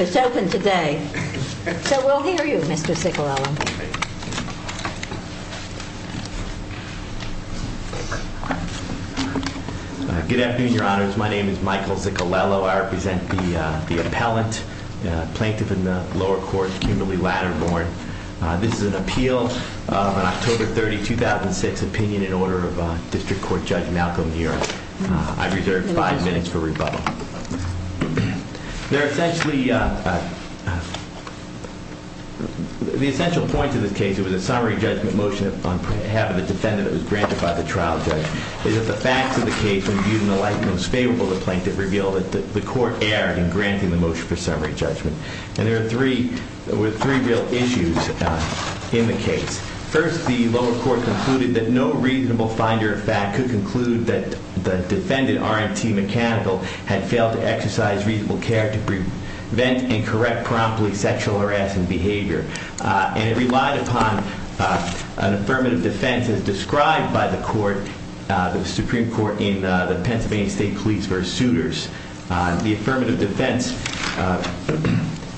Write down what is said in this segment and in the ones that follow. It's open today, so we'll hear you, Mr. Cicarella. Good afternoon, Your Honors. My name is Michael Cicarella. I represent the, uh, the appellant, uh, plaintiff in the lower court, Kimberly Latterborn. Uh, this is an appeal, uh, on October 30, 2006, opinion and order of, uh, District Court Judge Malcolm Muir. Uh, I reserve five minutes for rebuttal. There are essentially, uh, uh, the essential points of this case, it was a summary judgment motion on behalf of the defendant that was granted by the trial judge. The facts of the case were viewed in the light that was favorable to the plaintiff revealed that the court erred in granting the motion for summary judgment. And there are three, there were three real issues, uh, in the case. First, the lower court concluded that no reasonable finder of fact could conclude that the defendant, R&TMechanical, had failed to exercise reasonable care to prevent and correct promptly sexual harassment behavior. Uh, and it relied upon, uh, an affirmative defense as described by the court, uh, the Supreme Court in, uh, the Pennsylvania State Police v. Suitors. Uh, the affirmative defense, uh,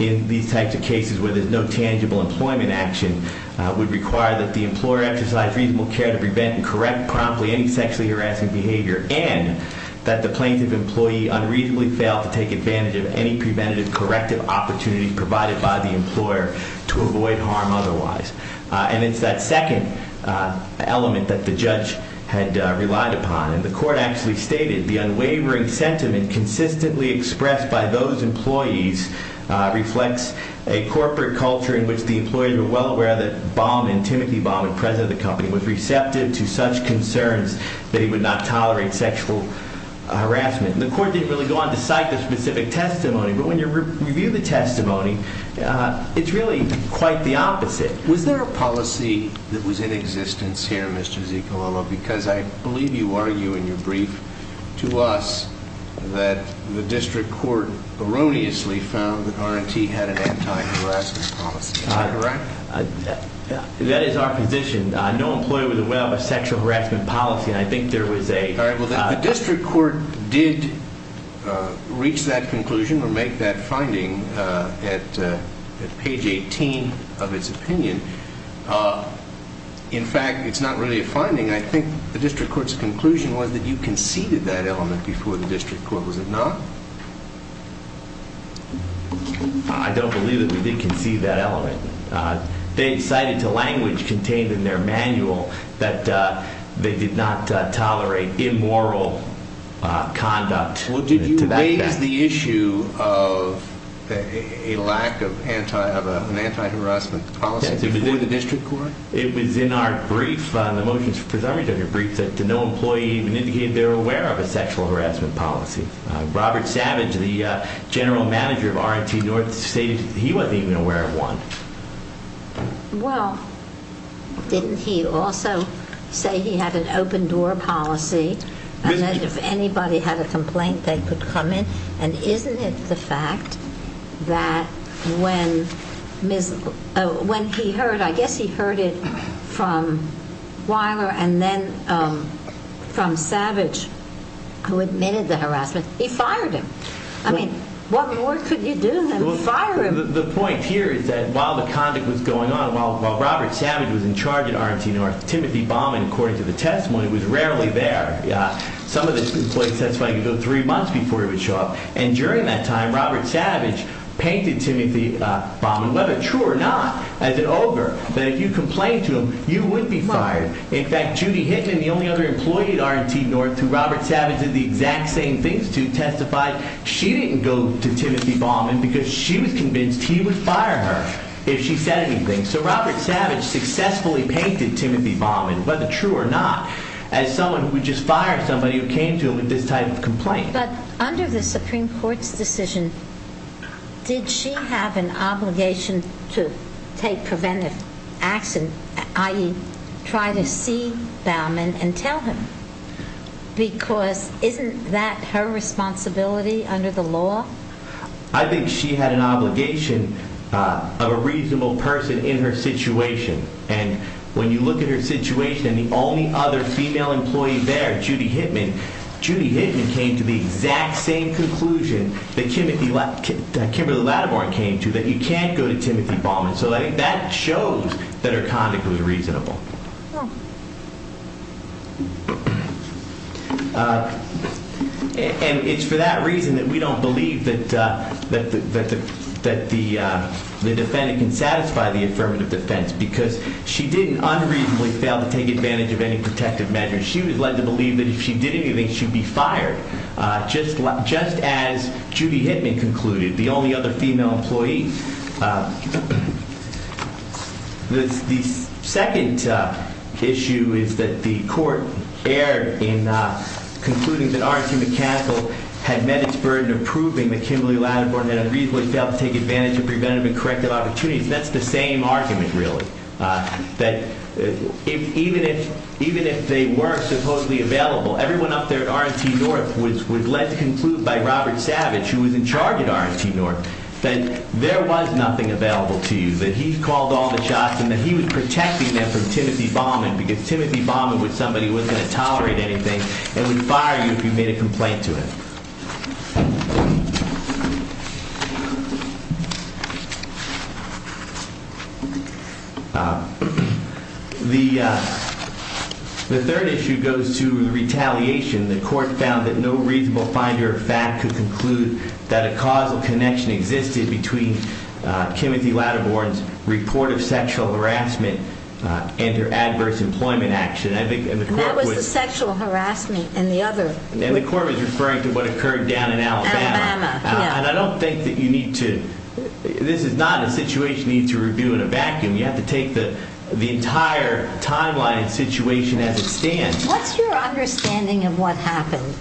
in these types of cases where there's no tangible employment action, uh, would require that the employer exercise reasonable care to prevent and correct promptly any sexually harassing behavior and that the plaintiff employee unreasonably failed to take advantage of any preventative corrective opportunities provided by the employer to avoid harm otherwise. Uh, and it's that second, uh, element that the judge had, uh, relied upon. And the court actually stated the unwavering sentiment consistently expressed by those employees, uh, reflects a corporate culture in which the employee were well aware that Baumann, Timothy Baumann, president of the company, was receptive to such concerns that he would not tolerate sexual harassment. And the court didn't really go on to cite the specific testimony, but when you review the testimony, uh, it's really quite the opposite. Was there a policy that was in existence here, Mr. Zicalolo, because I believe you argue in your brief to us that the district court erroneously found that R&T had an anti-harassment policy. Is that correct? Uh, that is our position. Uh, no employee was aware of a sexual harassment policy, and I think there was a... All right. Well, the district court did, uh, reach that conclusion or make that finding, uh, at, uh, at page 18 of its opinion. Uh, in fact, it's not really a finding. I think the district court's conclusion was that you conceded that element before the district court. Was it not? I don't believe that we did concede that element. Uh, they cited to language contained in their manual that, uh, they did not, uh, tolerate immoral, uh, conduct. Well, did you raise the issue of a lack of anti... of an anti-harassment policy before the district court? It was in our brief, uh, the motions for summary to your brief, that no employee even indicated they were aware of a sexual harassment policy. Uh, Robert Savage, the, uh, general manager of R&T North stated he wasn't even aware of one. Well, didn't he also say he had an open-door policy and that if anybody had a complaint they could come in? And isn't it the fact that when Ms., uh, when he heard, I guess he heard it from Weiler and then, um, from Savage who admitted the harassment, he fired him. I mean, what more could you do than fire him? Well, the point here is that while the conduct was going on, while, while Robert Savage was in charge at R&T North, Timothy Baumann, according to the testimony, was rarely there. Uh, some of his employees testified he could go three months before he would show up. And during that time, Robert Savage painted Timothy, uh, Baumann, whether true or not, as an ogre, that if you complained to him, you wouldn't be fired. In fact, Judy Hinton, the only other employee at R&T North who Robert Savage did the exact same things to, testified she didn't go to Timothy Baumann because she was convinced he would fire her if she said anything. So Robert Savage successfully painted Timothy Baumann, whether true or not, as someone who just fired somebody who came to him with this type of complaint. But under the Supreme Court's decision, did she have an obligation to take preventive action, i.e., try to see Baumann and tell him? Because isn't that her responsibility under the law? I think she had an obligation, uh, of a reasonable person in her situation. And when you look at her situation and the only other female employee there, Judy Hinton, Judy Hinton came to the exact same conclusion that Kimberly Latimore came to, that you can't go to Timothy Baumann. So I think that shows that her conduct was reasonable. Uh, and it's for that reason that we don't believe that, uh, that the defendant can satisfy the affirmative defense because she didn't unreasonably fail to take advantage of any protective measures. She was led to believe that if she did anything, she'd be fired, uh, just like, just as Judy Hinton concluded, the only other female employee. Uh, the, the second, uh, issue is that the court erred in, uh, concluding that R.T. McCaskill had met its burden of proving that Kimberly Latimore had unreasonably failed to take advantage of preventative and corrective opportunities. That's the same argument, really. Uh, that if, even if, even if they were supposedly available, everyone up there at R.T. North was, was led to conclude by Robert Savage, who was in charge at R.T. North, that there was nothing available to you, that he called all the shots and that he was protecting them from Timothy Baumann because Timothy Baumann was somebody who wasn't going to tolerate anything and would fire you if you made a complaint to him. Uh, the, uh, the third issue goes to retaliation. The court found that no reasonable finder of fact could conclude that a causal connection existed between, uh, Timothy Latimore's report of sexual harassment, uh, and her adverse employment action. I think, and the court And the court was referring to what occurred down in Alabama. Alabama, yeah. And I don't think that you need to, this is not a situation you need to review in a vacuum. You have to take the, the entire timeline and situation as it stands. What's your understanding of what happened?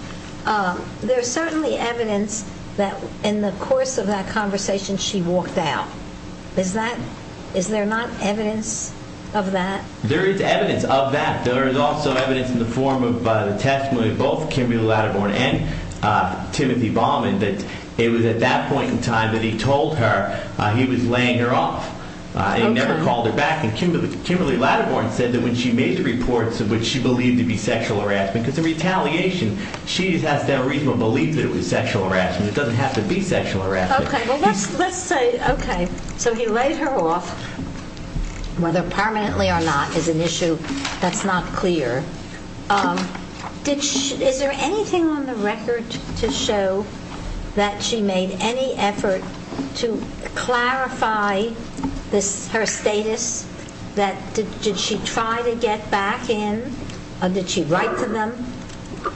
Um, there's certainly evidence that in the course of that conversation, she walked out. Is that, is there not evidence of that? There is evidence of that. There is also evidence in the form of, uh, the testimony of both Kimberly Latimore and, uh, Timothy Baumann that it was at that point in time that he told her, uh, he was laying her off. Uh, he never called her back. Okay. And Kimberly, Kimberly Latimore said that when she made the reports of which she believed to be sexual harassment, because of retaliation, she has no reasonable belief that it was sexual harassment. It doesn't have to be sexual harassment. Okay. Well, let's, let's say, okay, so he laid her off, whether permanently or not is an issue that's not clear. Um, did she, is there anything on the record to show that she made any effort to clarify this, her status? That, did, did she try to get back in? Uh, did she write to them?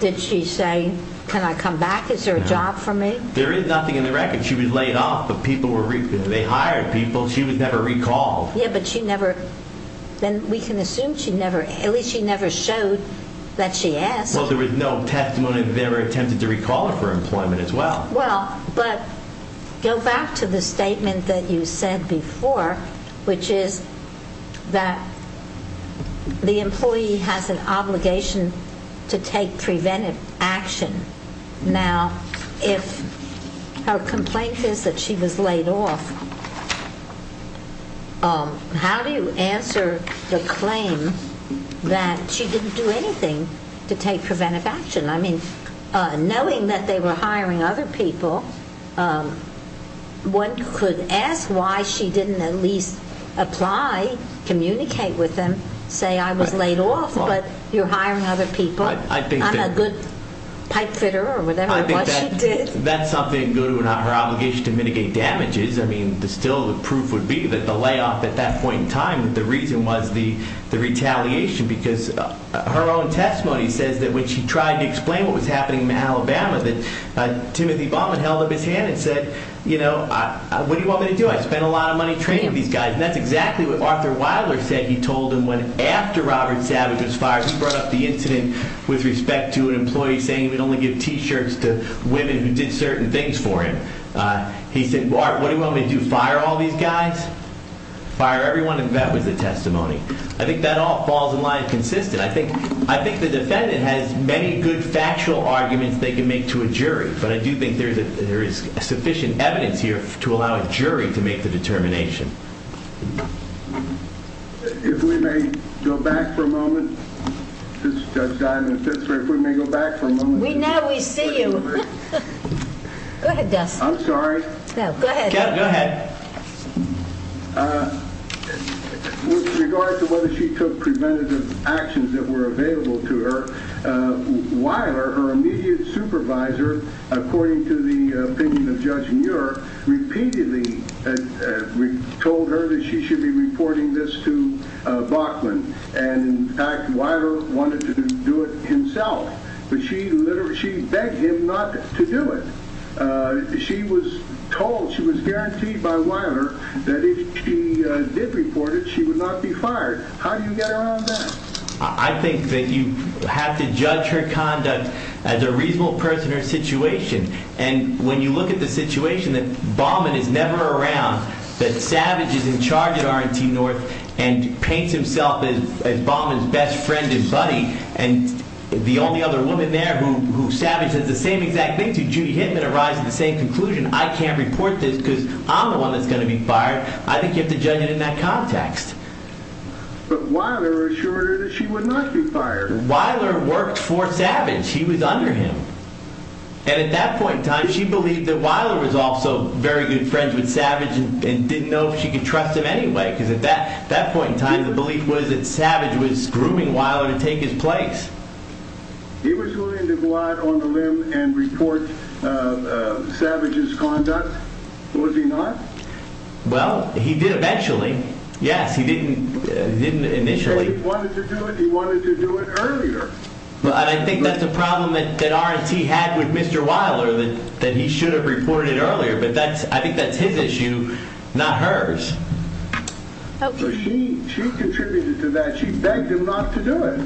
Did she say, can I come back? Is there a job for me? There is nothing in the record. She was laid off, but people were, they hired people. She was never recalled. Yeah, but she never, then we can assume she never, at least she never showed that she asked. Well, there was no testimony that they ever attempted to recall her for employment as well. Well, but go back to the statement that you said before, which is that the employee has an obligation to take preventive action. Now, if her complaint is that she was laid off, um, how do you answer the claim that she didn't do anything to take preventive action? I mean, uh, knowing that they were hiring other people, um, one could ask why she didn't at least apply, communicate with them, say I was laid off, but you're hiring other people. I think that I'm a good pipe fitter or whatever it was she did. I think that, that's something to go to her obligation to mitigate damages. I mean, the still, the proof would be that the layoff at that point in time, the reason was the, the retaliation because her own testimony says that when she tried to explain what was happening in Alabama, that, uh, Timothy Bauman held up his hand and said, you know, I, what do you want me to do? I spent a lot of money training these guys. And that's exactly what Arthur Weiler said. He told him when, after Robert Savage was fired, he brought up the incident with respect to an employee saying he would only give t-shirts to women who did certain things for him. Uh, he said, what do you want me to do? Fire all these guys? Fire everyone? And that was the testimony. I think that all falls in line consistent. I think, I think the defendant has many good factual arguments they can make to a jury, but I do think there's a, there is sufficient evidence here to allow a jury to make the determination. If we may go back for a moment, Judge Diamond, if we may go back for a moment. We now, we see you. Go ahead, Dustin. I'm sorry. Go ahead. Go ahead. Uh, with regard to whether she took preventative actions that were available to her, uh, Weiler, her immediate supervisor, according to the opinion of Judge Muir, repeatedly, uh, uh, told her that she should be reporting this to, uh, Bachman. And in fact, Weiler wanted to do it himself. But she literally, she begged him not to do it. Uh, she was told, she was guaranteed by Weiler that if she, uh, did report it, she would not be fired. How do you get around that? I think that you have to judge her conduct as a reasonable person or situation. And when you look at the situation that Bachman is never around, that Savage is in charge at R&T North and paints himself as, as Bachman's best friend and buddy, and the only other woman there who, who Savage does the same exact thing to, Judy Hittman, arrives at the same conclusion, I can't report this because I'm the one that's going to be fired. I think you have to judge it in that context. But Weiler assured her that she would not be fired. Weiler worked for Savage. He was under him. And at that point in time, she believed that Weiler was also very good friends with Savage and didn't know if she could trust him anyway. Because at that, at that point in time, the belief was that Savage was grooming Weiler to take his place. He was willing to go out on the limb and report, uh, uh, Savage's conduct. Was he not? Well, he did eventually. Yes, he didn't, didn't initially. He wanted to do it. He wanted to do it earlier. But I think that's a problem that, that R&T had with Mr. Weiler, that, that he should have reported it earlier. But that's, I think that's his issue, not hers. So she, she contributed to that. She begged him not to do it.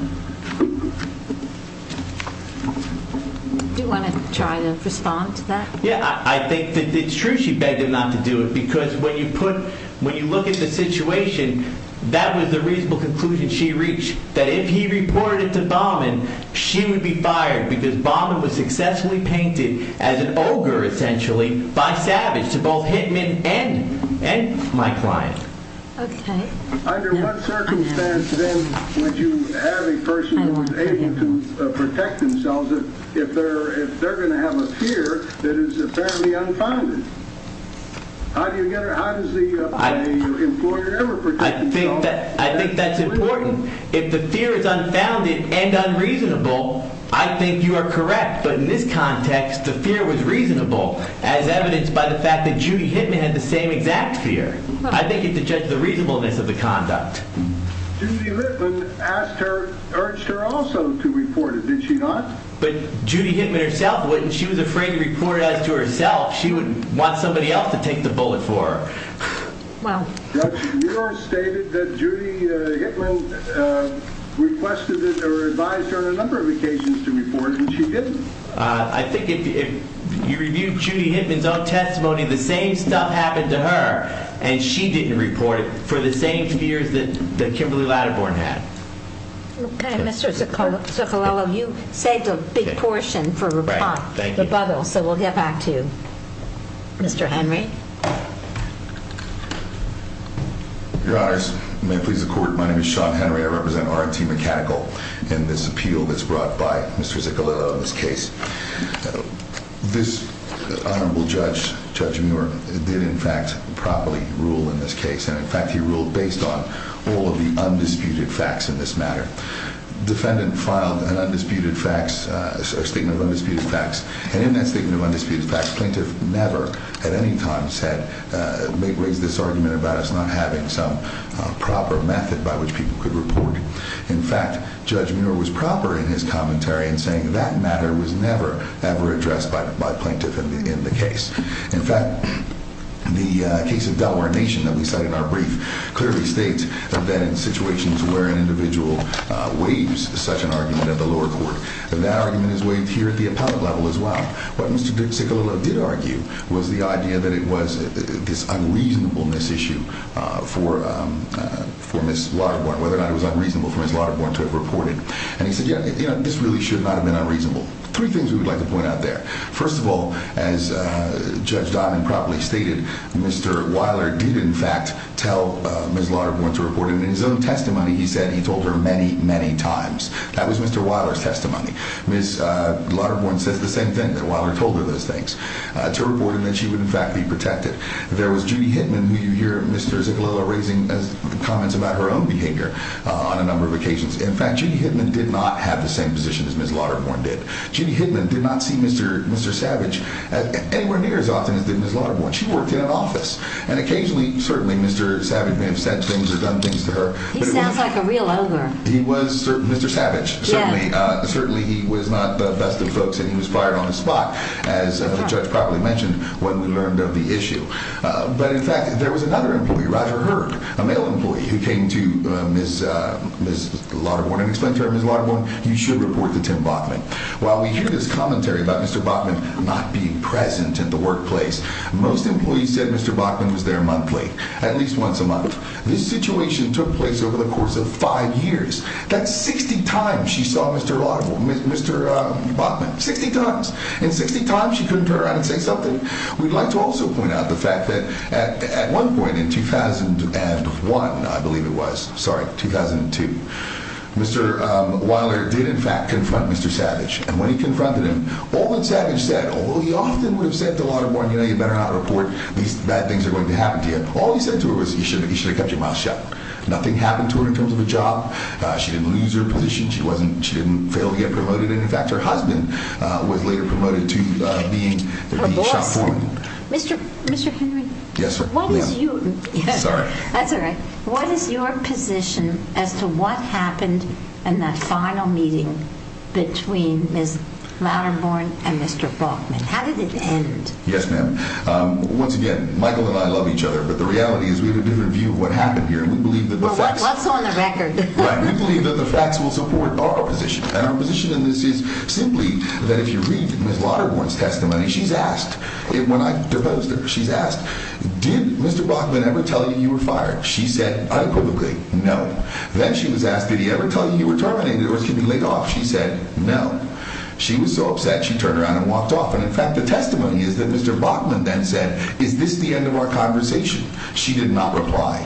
Do you want to try to respond to that? Yeah, I think that it's true she begged him not to do it. Because when you put, when you look at the situation, that was the reasonable conclusion she reached, that if he reported it to Baumann, she would be fired. Because Baumann was successfully painted as an ogre, essentially, by Savage to both Hittman and, and my client. Okay. Under what circumstance, then, would you have a person who was able to protect themselves if they're, if they're going to have a fear that is apparently unfounded? How do you get her, how does the employer ever protect themselves? I think that, I think that's important. If the fear is unfounded and unreasonable, I think you are correct. But in this context, the fear was reasonable, as evidenced by the fact that Judy Hittman had the same exact fear. I think you have to judge the reasonableness of the conduct. Judy Hittman asked her, urged her also to report it, did she not? But Judy Hittman herself wouldn't. She was afraid to report it as to herself. She wouldn't want somebody else to take the bullet for her. Wow. Judge, you have stated that Judy Hittman requested it, or advised her on a number of occasions to report, and she didn't. I think if, if you reviewed Judy Hittman's own testimony, the same stuff happened to her, and she didn't report it for the same fears that, that Kimberly Latiborne had. Okay, Mr. Ziccolello, you saved a big portion for rebuttal, so we'll get back to you. Mr. Henry? Your Honors, may it please the Court, my name is Sean Henry. I represent RIT Mechanical in this appeal that's brought by Mr. Ziccolello in this case. This Honorable Judge, Judge Muir, did in fact properly rule in this case, and in fact he ruled based on all of the undisputed facts in this matter. Defendant filed an undisputed facts, a statement of undisputed facts, and in that statement of undisputed facts, plaintiff never at any time said, may raise this argument about us not having some proper method by which people could report. In fact, Judge Muir was proper in his commentary in saying that matter was never, ever addressed by plaintiff in the case. In fact, the case of Delaware Nation that we cite in our brief clearly states that in situations where an individual waives such an argument at the lower court, that argument is waived here at the appellate level as well. What Mr. Ziccolello did argue was the idea that it was this unreasonableness issue for Ms. Lauterborn, whether or not it was unreasonable for Ms. Lauterborn to have reported. And he said, yeah, this really should not have been unreasonable. Three things we would like to point out there. First of all, as Judge Dimon properly stated, Mr. Weiler did in fact tell Ms. Lauterborn to report, and in his own testimony he said he told her many, many times. That was Mr. Weiler's testimony. Ms. Lauterborn says the same thing, that Weiler told her those things, to report and that she would in fact be protected. There was Judy Hittman, who you hear Mr. Ziccolello raising comments about her own behavior on a number of occasions. In fact, Judy Hittman did not have the same position as Ms. Lauterborn did. Judy Hittman did not see Mr. Savage anywhere near as often as did Ms. Lauterborn. She worked in an office, and occasionally, certainly, Mr. Savage may have said things or done things to her. He sounds like a real ogre. He was Mr. Savage, certainly. Certainly he was not the best of folks, and he was fired on the spot, as the judge properly mentioned when we learned of the issue. But in fact, there was another employee, Roger Hurd, a male employee, who came to Ms. Lauterborn and explained to her, Ms. Lauterborn, you should report to Tim Bachmann. While we hear this commentary about Mr. Bachmann not being present at the workplace, most employees said Mr. Bachmann was there monthly, at least once a month. This situation took place over the course of five years. That's 60 times she saw Mr. Lauterborn, Mr. Bachmann, 60 times. In 60 times, she couldn't turn around and say something. We'd like to also point out the fact that at one point in 2001, I believe it was, sorry, 2002, Mr. Weiler did, in fact, confront Mr. Savage. And when he confronted him, all that Savage said, although he often would have said to Lauterborn, you know, you better not report. These bad things are going to happen to you. All he said to her was, you should have kept your mouth shut. Nothing happened to her in terms of a job. She didn't lose her position. She didn't fail to get promoted. In fact, her husband was later promoted to being the shop foreman. Mr. Henry? Yes, ma'am. What is your position as to what happened in that final meeting between Ms. Lauterborn and Mr. Bachmann? How did it end? Yes, ma'am. Once again, Michael and I love each other, but the reality is we have a different view of what happened here. We believe that the facts... Well, what's on the record? Right. We believe that the facts will support our position. And our position in this is simply that if you read Ms. Lauterborn's testimony, she's asked, when I proposed her, she's asked, did Mr. Bachmann ever tell you you were fired? She said, unequivocally, no. Then she was asked, did he ever tell you you were terminated or should he be laid off? She said, no. She was so upset, she turned around and walked off. And in fact, the testimony is that Mr. Bachmann then said, is this the end of our conversation? She did not reply.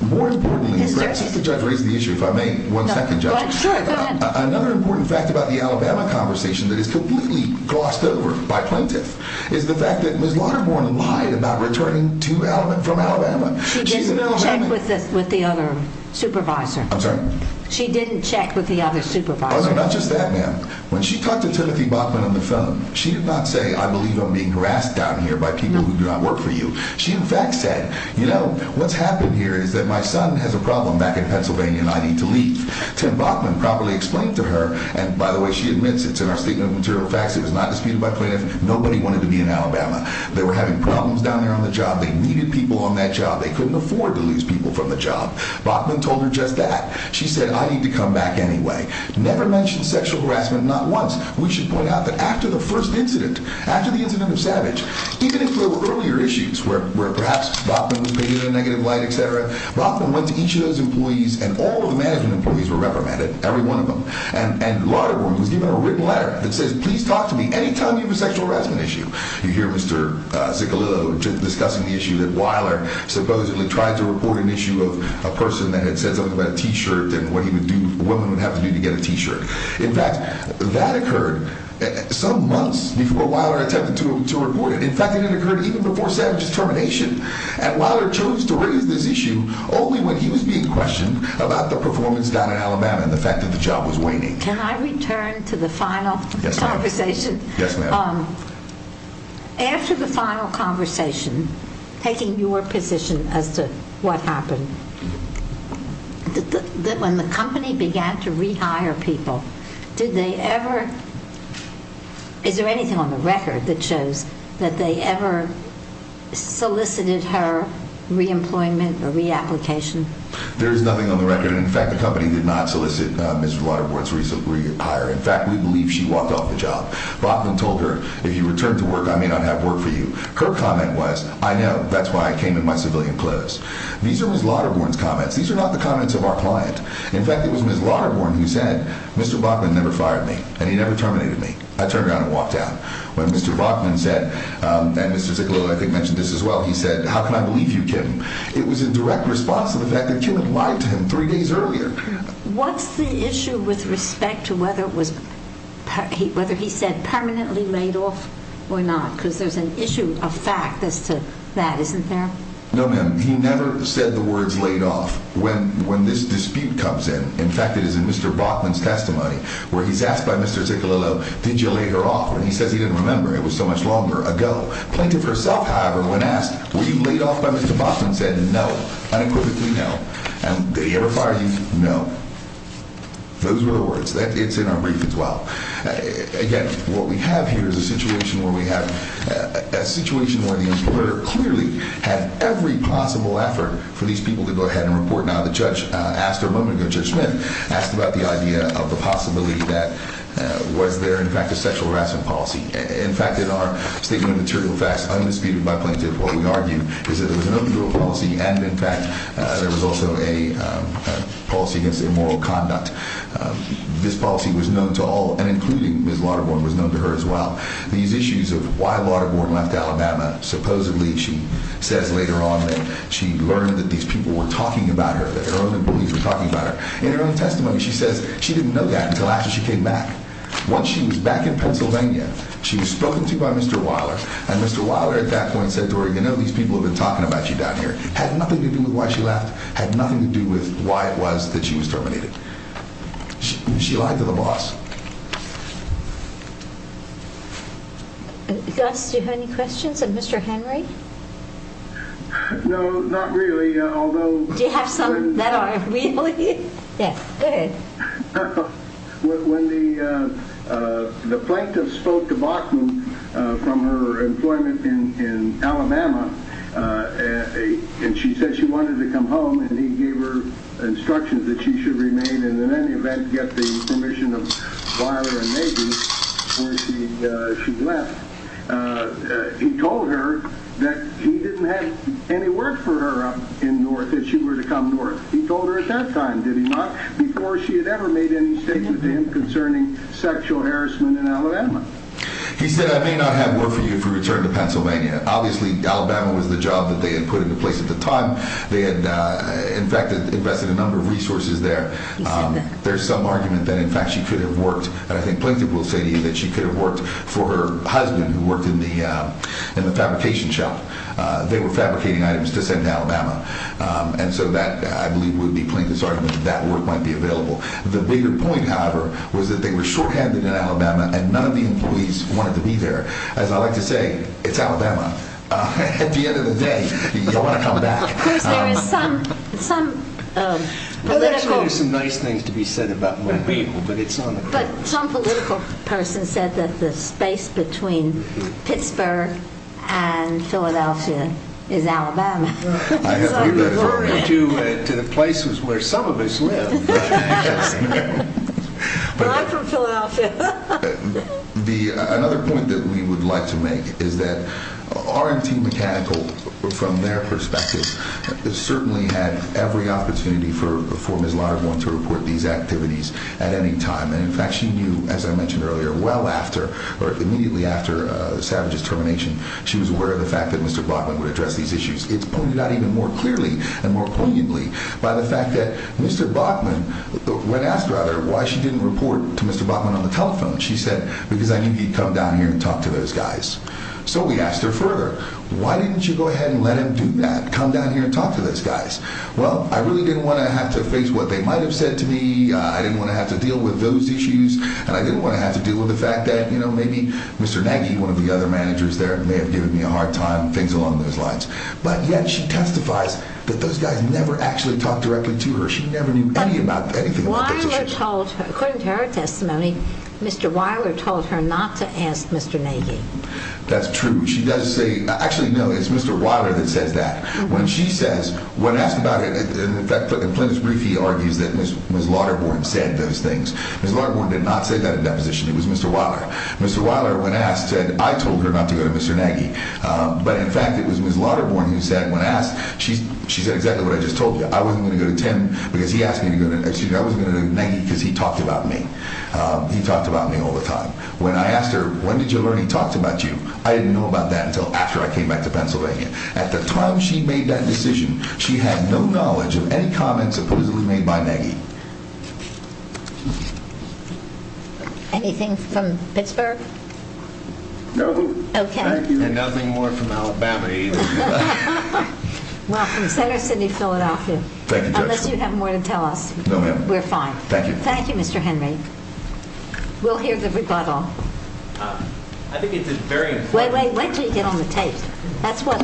More importantly... Mr. Judge? Mr. Judge, raise the issue, if I may. One second, Judge. Sure, go ahead. Another important fact about the Alabama conversation that is completely glossed over by plaintiffs is the fact that Ms. Lauterborn lied about returning from Alabama. She didn't check with the other supervisor. I'm sorry? She didn't check with the other supervisor. Oh, no, not just that, ma'am. When she talked to Timothy Bachmann on the phone, she did not say, I believe I'm being harassed down here by people who do not work for you. She, in fact, said, you know, what's happened here is that my son has a problem back in Alabama, and Mr. Bachmann properly explained to her, and by the way, she admits it's in our statement of material facts, it was not disputed by plaintiffs, nobody wanted to be in Alabama. They were having problems down there on the job. They needed people on that job. They couldn't afford to lose people from the job. Bachmann told her just that. She said, I need to come back anyway. Never mentioned sexual harassment, not once. We should point out that after the first incident, after the incident of Savage, even if there were earlier issues where perhaps Bachmann was paying the negative light, et cetera, Bachmann went to each of those employees, and all of the management employees were reprimanded, every one of them. And Lauterborn was given a written letter that says, please talk to me any time you have a sexual harassment issue. You hear Mr. Sicalillo discussing the issue that Weiler supposedly tried to report an issue of a person that had said something about a T-shirt and what he would do, what a woman would have to do to get a T-shirt. In fact, that occurred some months before Weiler attempted to report it. In fact, it had occurred even before Savage's termination. And Weiler chose to raise this issue only when he was being questioned about the performance down in Alabama and the fact that the job was waning. Can I return to the final conversation? Yes, ma'am. After the final conversation, taking your position as to what happened, when the company began to rehire people, did they ever, is there anything on the record that shows that they ever solicited her re-employment or re-application? There is nothing on the record. In fact, the company did not solicit Ms. Lauterborn's rehire. In fact, we believe she walked off the job. Bachman told her, if you return to work, I may not have work for you. Her comment was, I know, that's why I came in my civilian clothes. These are Ms. Lauterborn's comments. These are not the comments of our client. In fact, it was Ms. Lauterborn who said, Mr. Bachman never fired me and he never terminated me. I turned around and walked out. When Mr. Bachman said, and Mr. Zickelelow I think mentioned this as well, he said, how can I believe you, Kim? It was in direct response to the fact that Kim had lied to him three days earlier. What's the issue with respect to whether it was, whether he said permanently laid off or not? Because there's an issue of fact as to that, isn't there? No, ma'am. He never said the words laid off. When this dispute comes in, in fact, it is in Mr. Bachman's testimony, where he's asked by Mr. Zickelelow, did you lay her off? When he says he didn't remember, it was so much longer ago. Plaintiff herself, however, when asked, were you laid off by Mr. Bachman, said no, unequivocally no. Did he ever fire you? No. Those were the words. It's in our brief as well. Again, what we have here is a situation where we have, a situation where the employer clearly had every possible effort for these people to go ahead and report. Now, the judge asked her a moment ago, Judge Smith, asked about the idea of the possibility that was there, in fact, a sexual harassment policy. In fact, in our statement of material facts, undisputed by plaintiff, what we argue is that there was an open-door policy and, in fact, there was also a policy against immoral conduct. This policy was known to all, and including Ms. Lauterborn, was known to her as well. These issues of why Lauterborn left Alabama, supposedly, she says later on that she learned that these people were talking about her, that her own employees were talking about her. In her own testimony, she says she didn't know that until after she came back. Once she was back in Pennsylvania, she was spoken to by Mr. Weiler, and Mr. Weiler at that point said to her, you know, these people have been talking about you down here. Had nothing to do with why she left. Had nothing to do with why it was that she was terminated. She lied to the boss. Gus, do you have any questions of Mr. Henry? No, not really, although... Do you have some that are real? Yes. Go ahead. When the plaintiff spoke to Bachmann from her employment in Alabama, and she said she wanted to come home, and he gave her instructions that she should remain and, in any event, he told her that he didn't have any work for her up in North, that she were to come North. He told her at that time, did he not? Before she had ever made any statement to him concerning sexual harassment in Alabama. He said, I may not have work for you if you return to Pennsylvania. Obviously, Alabama was the job that they had put into place at the time. They had, in fact, invested a number of resources there. He said that. There's some argument that, in fact, she could have worked, and I think plaintiff will say to you that she could have worked for her husband who worked in the fabrication shop. They were fabricating items to send to Alabama. And so that, I believe, would be plaintiff's argument that that work might be available. The bigger point, however, was that they were shorthanded in Alabama, and none of the employees wanted to be there. As I like to say, it's Alabama. At the end of the day, you'll want to come back. Of course, there is some political... There's actually some nice things to be said about my people, but it's not... But some political person said that the space between Pittsburgh and Philadelphia is Alabama. We're referring to the places where some of us live. Well, I'm from Philadelphia. Another point that we would like to make is that R&T Mechanical, from their perspective, certainly had every opportunity for Ms. Lahr going to report these activities at any time. And, in fact, she knew, as I mentioned earlier, well after, or immediately after, Savage's termination, she was aware of the fact that Mr. Bachman would address these issues. It's pointed out even more clearly and more poignantly by the fact that Mr. Bachman, when asked, rather, why she didn't report to Mr. Bachman on the telephone, she said, because I knew he'd come down here and talk to those guys. So we asked her further, why didn't you go ahead and let him do that? Why didn't you come down here and talk to those guys? Well, I really didn't want to have to face what they might have said to me. I didn't want to have to deal with those issues. And I didn't want to have to deal with the fact that, you know, maybe Mr. Nagy, one of the other managers there, may have given me a hard time, things along those lines. But, yet, she testifies that those guys never actually talked directly to her. She never knew anything about those issues. According to her testimony, Mr. Weiler told her not to ask Mr. Nagy. That's true. She does say, actually, no, it's Mr. Weiler that says that. When she says, when asked about it, in fact, in Plymouth's brief, he argues that Ms. Lauterborn said those things. Ms. Lauterborn did not say that in that position. It was Mr. Weiler. Mr. Weiler, when asked, said, I told her not to go to Mr. Nagy. But, in fact, it was Ms. Lauterborn who said, when asked, she said exactly what I just told you. I wasn't going to go to Tim because he asked me to go to, excuse me, I wasn't going to go to Nagy because he talked about me. He talked about me all the time. When I asked her, when did you learn he talked about you, I didn't know about that until after I came back to Pennsylvania. At the time she made that decision, she had no knowledge of any comments supposedly made by Nagy. Anything from Pittsburgh? No. Okay. And nothing more from Alabama either. Welcome. Center City, Philadelphia. Thank you, Judge. Unless you have more to tell us. No, ma'am. We're fine. Thank you. Thank you, Mr. Henry. We'll hear the rebuttal. I think it's very important. Wait, wait. Wait until you get on the tape. That's what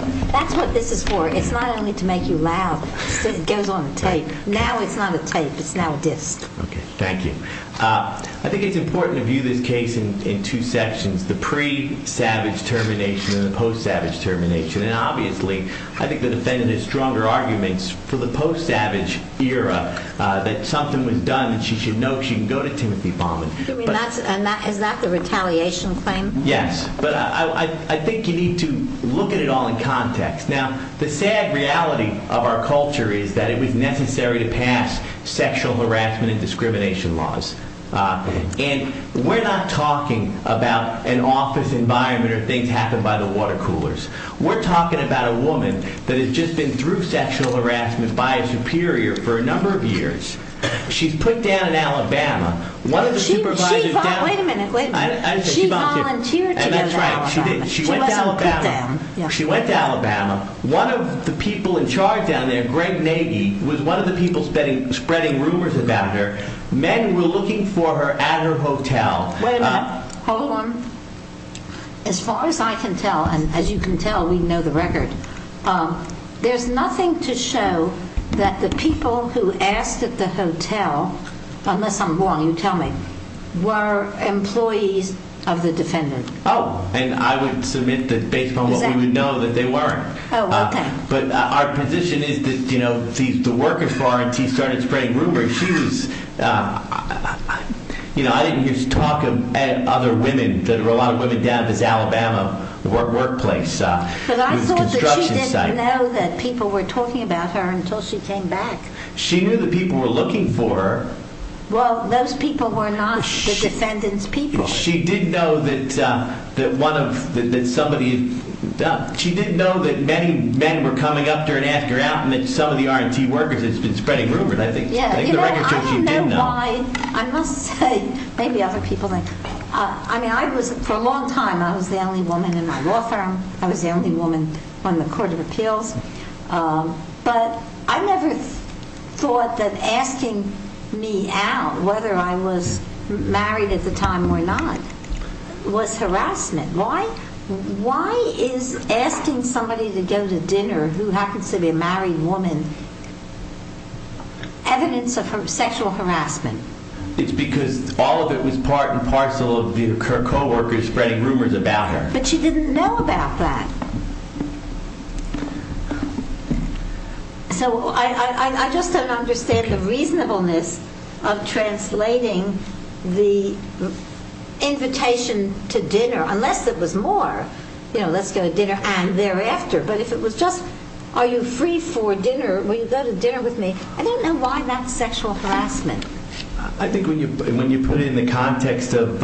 this is for. It's not only to make you loud. It goes on the tape. Now it's not a tape. It's now a disc. Okay. Thank you. I think it's important to view this case in two sections, the pre-Savage termination and the post-Savage termination. And obviously, I think the defendant has stronger arguments for the post-Savage era that something was done and she should know she can go to Timothy Baumann. Is that the retaliation claim? Yes. But I think you need to look at it all in context. Now, the sad reality of our culture is that it was necessary to pass sexual harassment and discrimination laws. And we're not talking about an office environment or things happened by the water coolers. We're talking about a woman that has just been through She's put down in Alabama. Wait a minute. Wait a minute. She volunteered to go to Alabama. And that's right. She did. She went to Alabama. She wasn't put down. She went to Alabama. One of the people in charge down there, Greg Nagy, was one of the people spreading rumors about her. Men were looking for her at her hotel. Wait a minute. Hold on. As far as I can tell, and as you can tell, we know the record, there's nothing to show that the people who asked at the hotel, unless I'm wrong, you tell me, were employees of the defendant. Oh, and I would submit that based on what we would know, that they weren't. Oh, okay. But our position is that, you know, the workers for R&T started spreading rumors. She was, you know, I didn't use talk of other women. There were a lot of women down at this Alabama workplace. It was a construction site. But I thought that she didn't know that people were talking about her until she came back. She knew the people were looking for her. Well, those people were not the defendant's people. She didn't know that many men were coming up to her and asking her out and that some of the R&T workers had been spreading rumors, I think. Yeah. I don't know why. I must say, maybe other people think. I mean, for a long time I was the only woman in the law firm. I was the only woman on the Court of Appeals. But I never thought that asking me out, whether I was married at the time or not, was harassment. Why is asking somebody to go to dinner, who happens to be a married woman, evidence of sexual harassment? It's because all of it was part and parcel of her coworkers spreading rumors about her. But she didn't know about that. So I just don't understand the reasonableness of translating the invitation to dinner. Unless it was more, you know, let's go to dinner, and thereafter. But if it was just, are you free for dinner, will you go to dinner with me? I don't know why that's sexual harassment. I think when you put it in the context of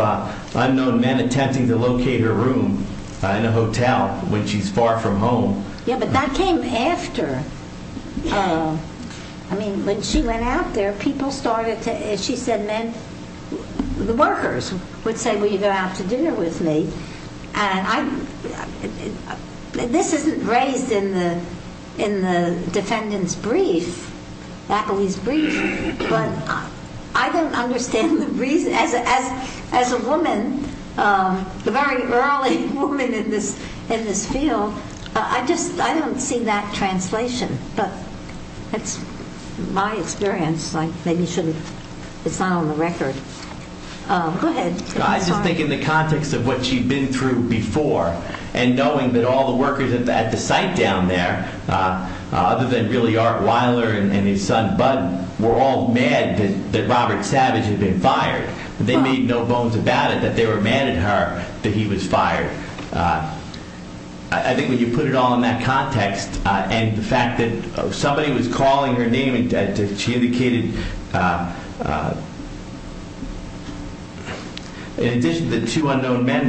unknown men attempting to locate her room in a hotel when she's far from home. Yeah, but that came after. I mean, when she went out there, people started to, as she said, men, the workers would say, will you go out to dinner with me? This isn't raised in the defendant's brief, Appley's brief, but I don't understand the reason. As a woman, a very early woman in this field, I don't see that translation, but that's my experience. Maybe it's not on the record. Go ahead. I just think in the context of what she'd been through before and knowing that all the workers at the site down there, other than really Art Weiler and his son Bud, were all mad that Robert Savage had been fired. They made no bones about it that they were mad at her that he was fired. I think when you put it all in that context and the fact that somebody was calling her name and she indicated, in addition to the two unknown men,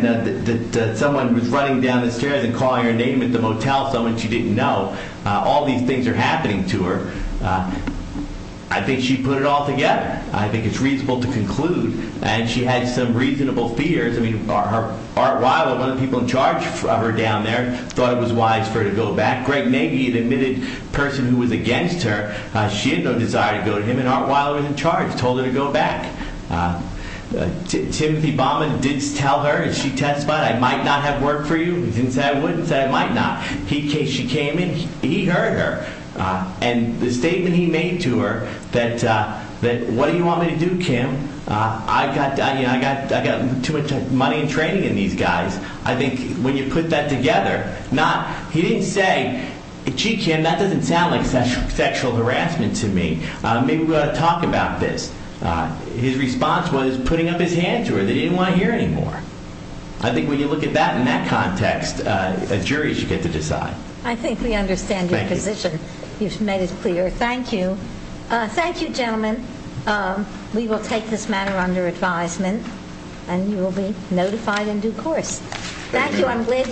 that someone was running down the stairs and calling her name at the motel, someone she didn't know. All these things are happening to her. I think she put it all together. I think it's reasonable to conclude. And she had some reasonable fears. Art Weiler, one of the people in charge of her down there, thought it was wise for her to go back. Greg Nagy, an admitted person who was against her, she had no desire to go to him, and Art Weiler was in charge, told her to go back. Timothy Bauman did tell her, and she testified, I might not have worked for you. He didn't say I would, he said I might not. She came in, he heard her. And the statement he made to her that, what do you want me to do, Kim? I've got too much money and training in these guys. I think when you put that together, he didn't say, gee, Kim, that doesn't sound like sexual harassment to me. Maybe we ought to talk about this. His response was putting up his hand to her. They didn't want to hear anymore. I think when you look at that in that context, a jury should get to decide. I think we understand your position. You've made it clear. Thank you. Thank you, gentlemen. We will take this matter under advisement, and you will be notified in due course. Thank you.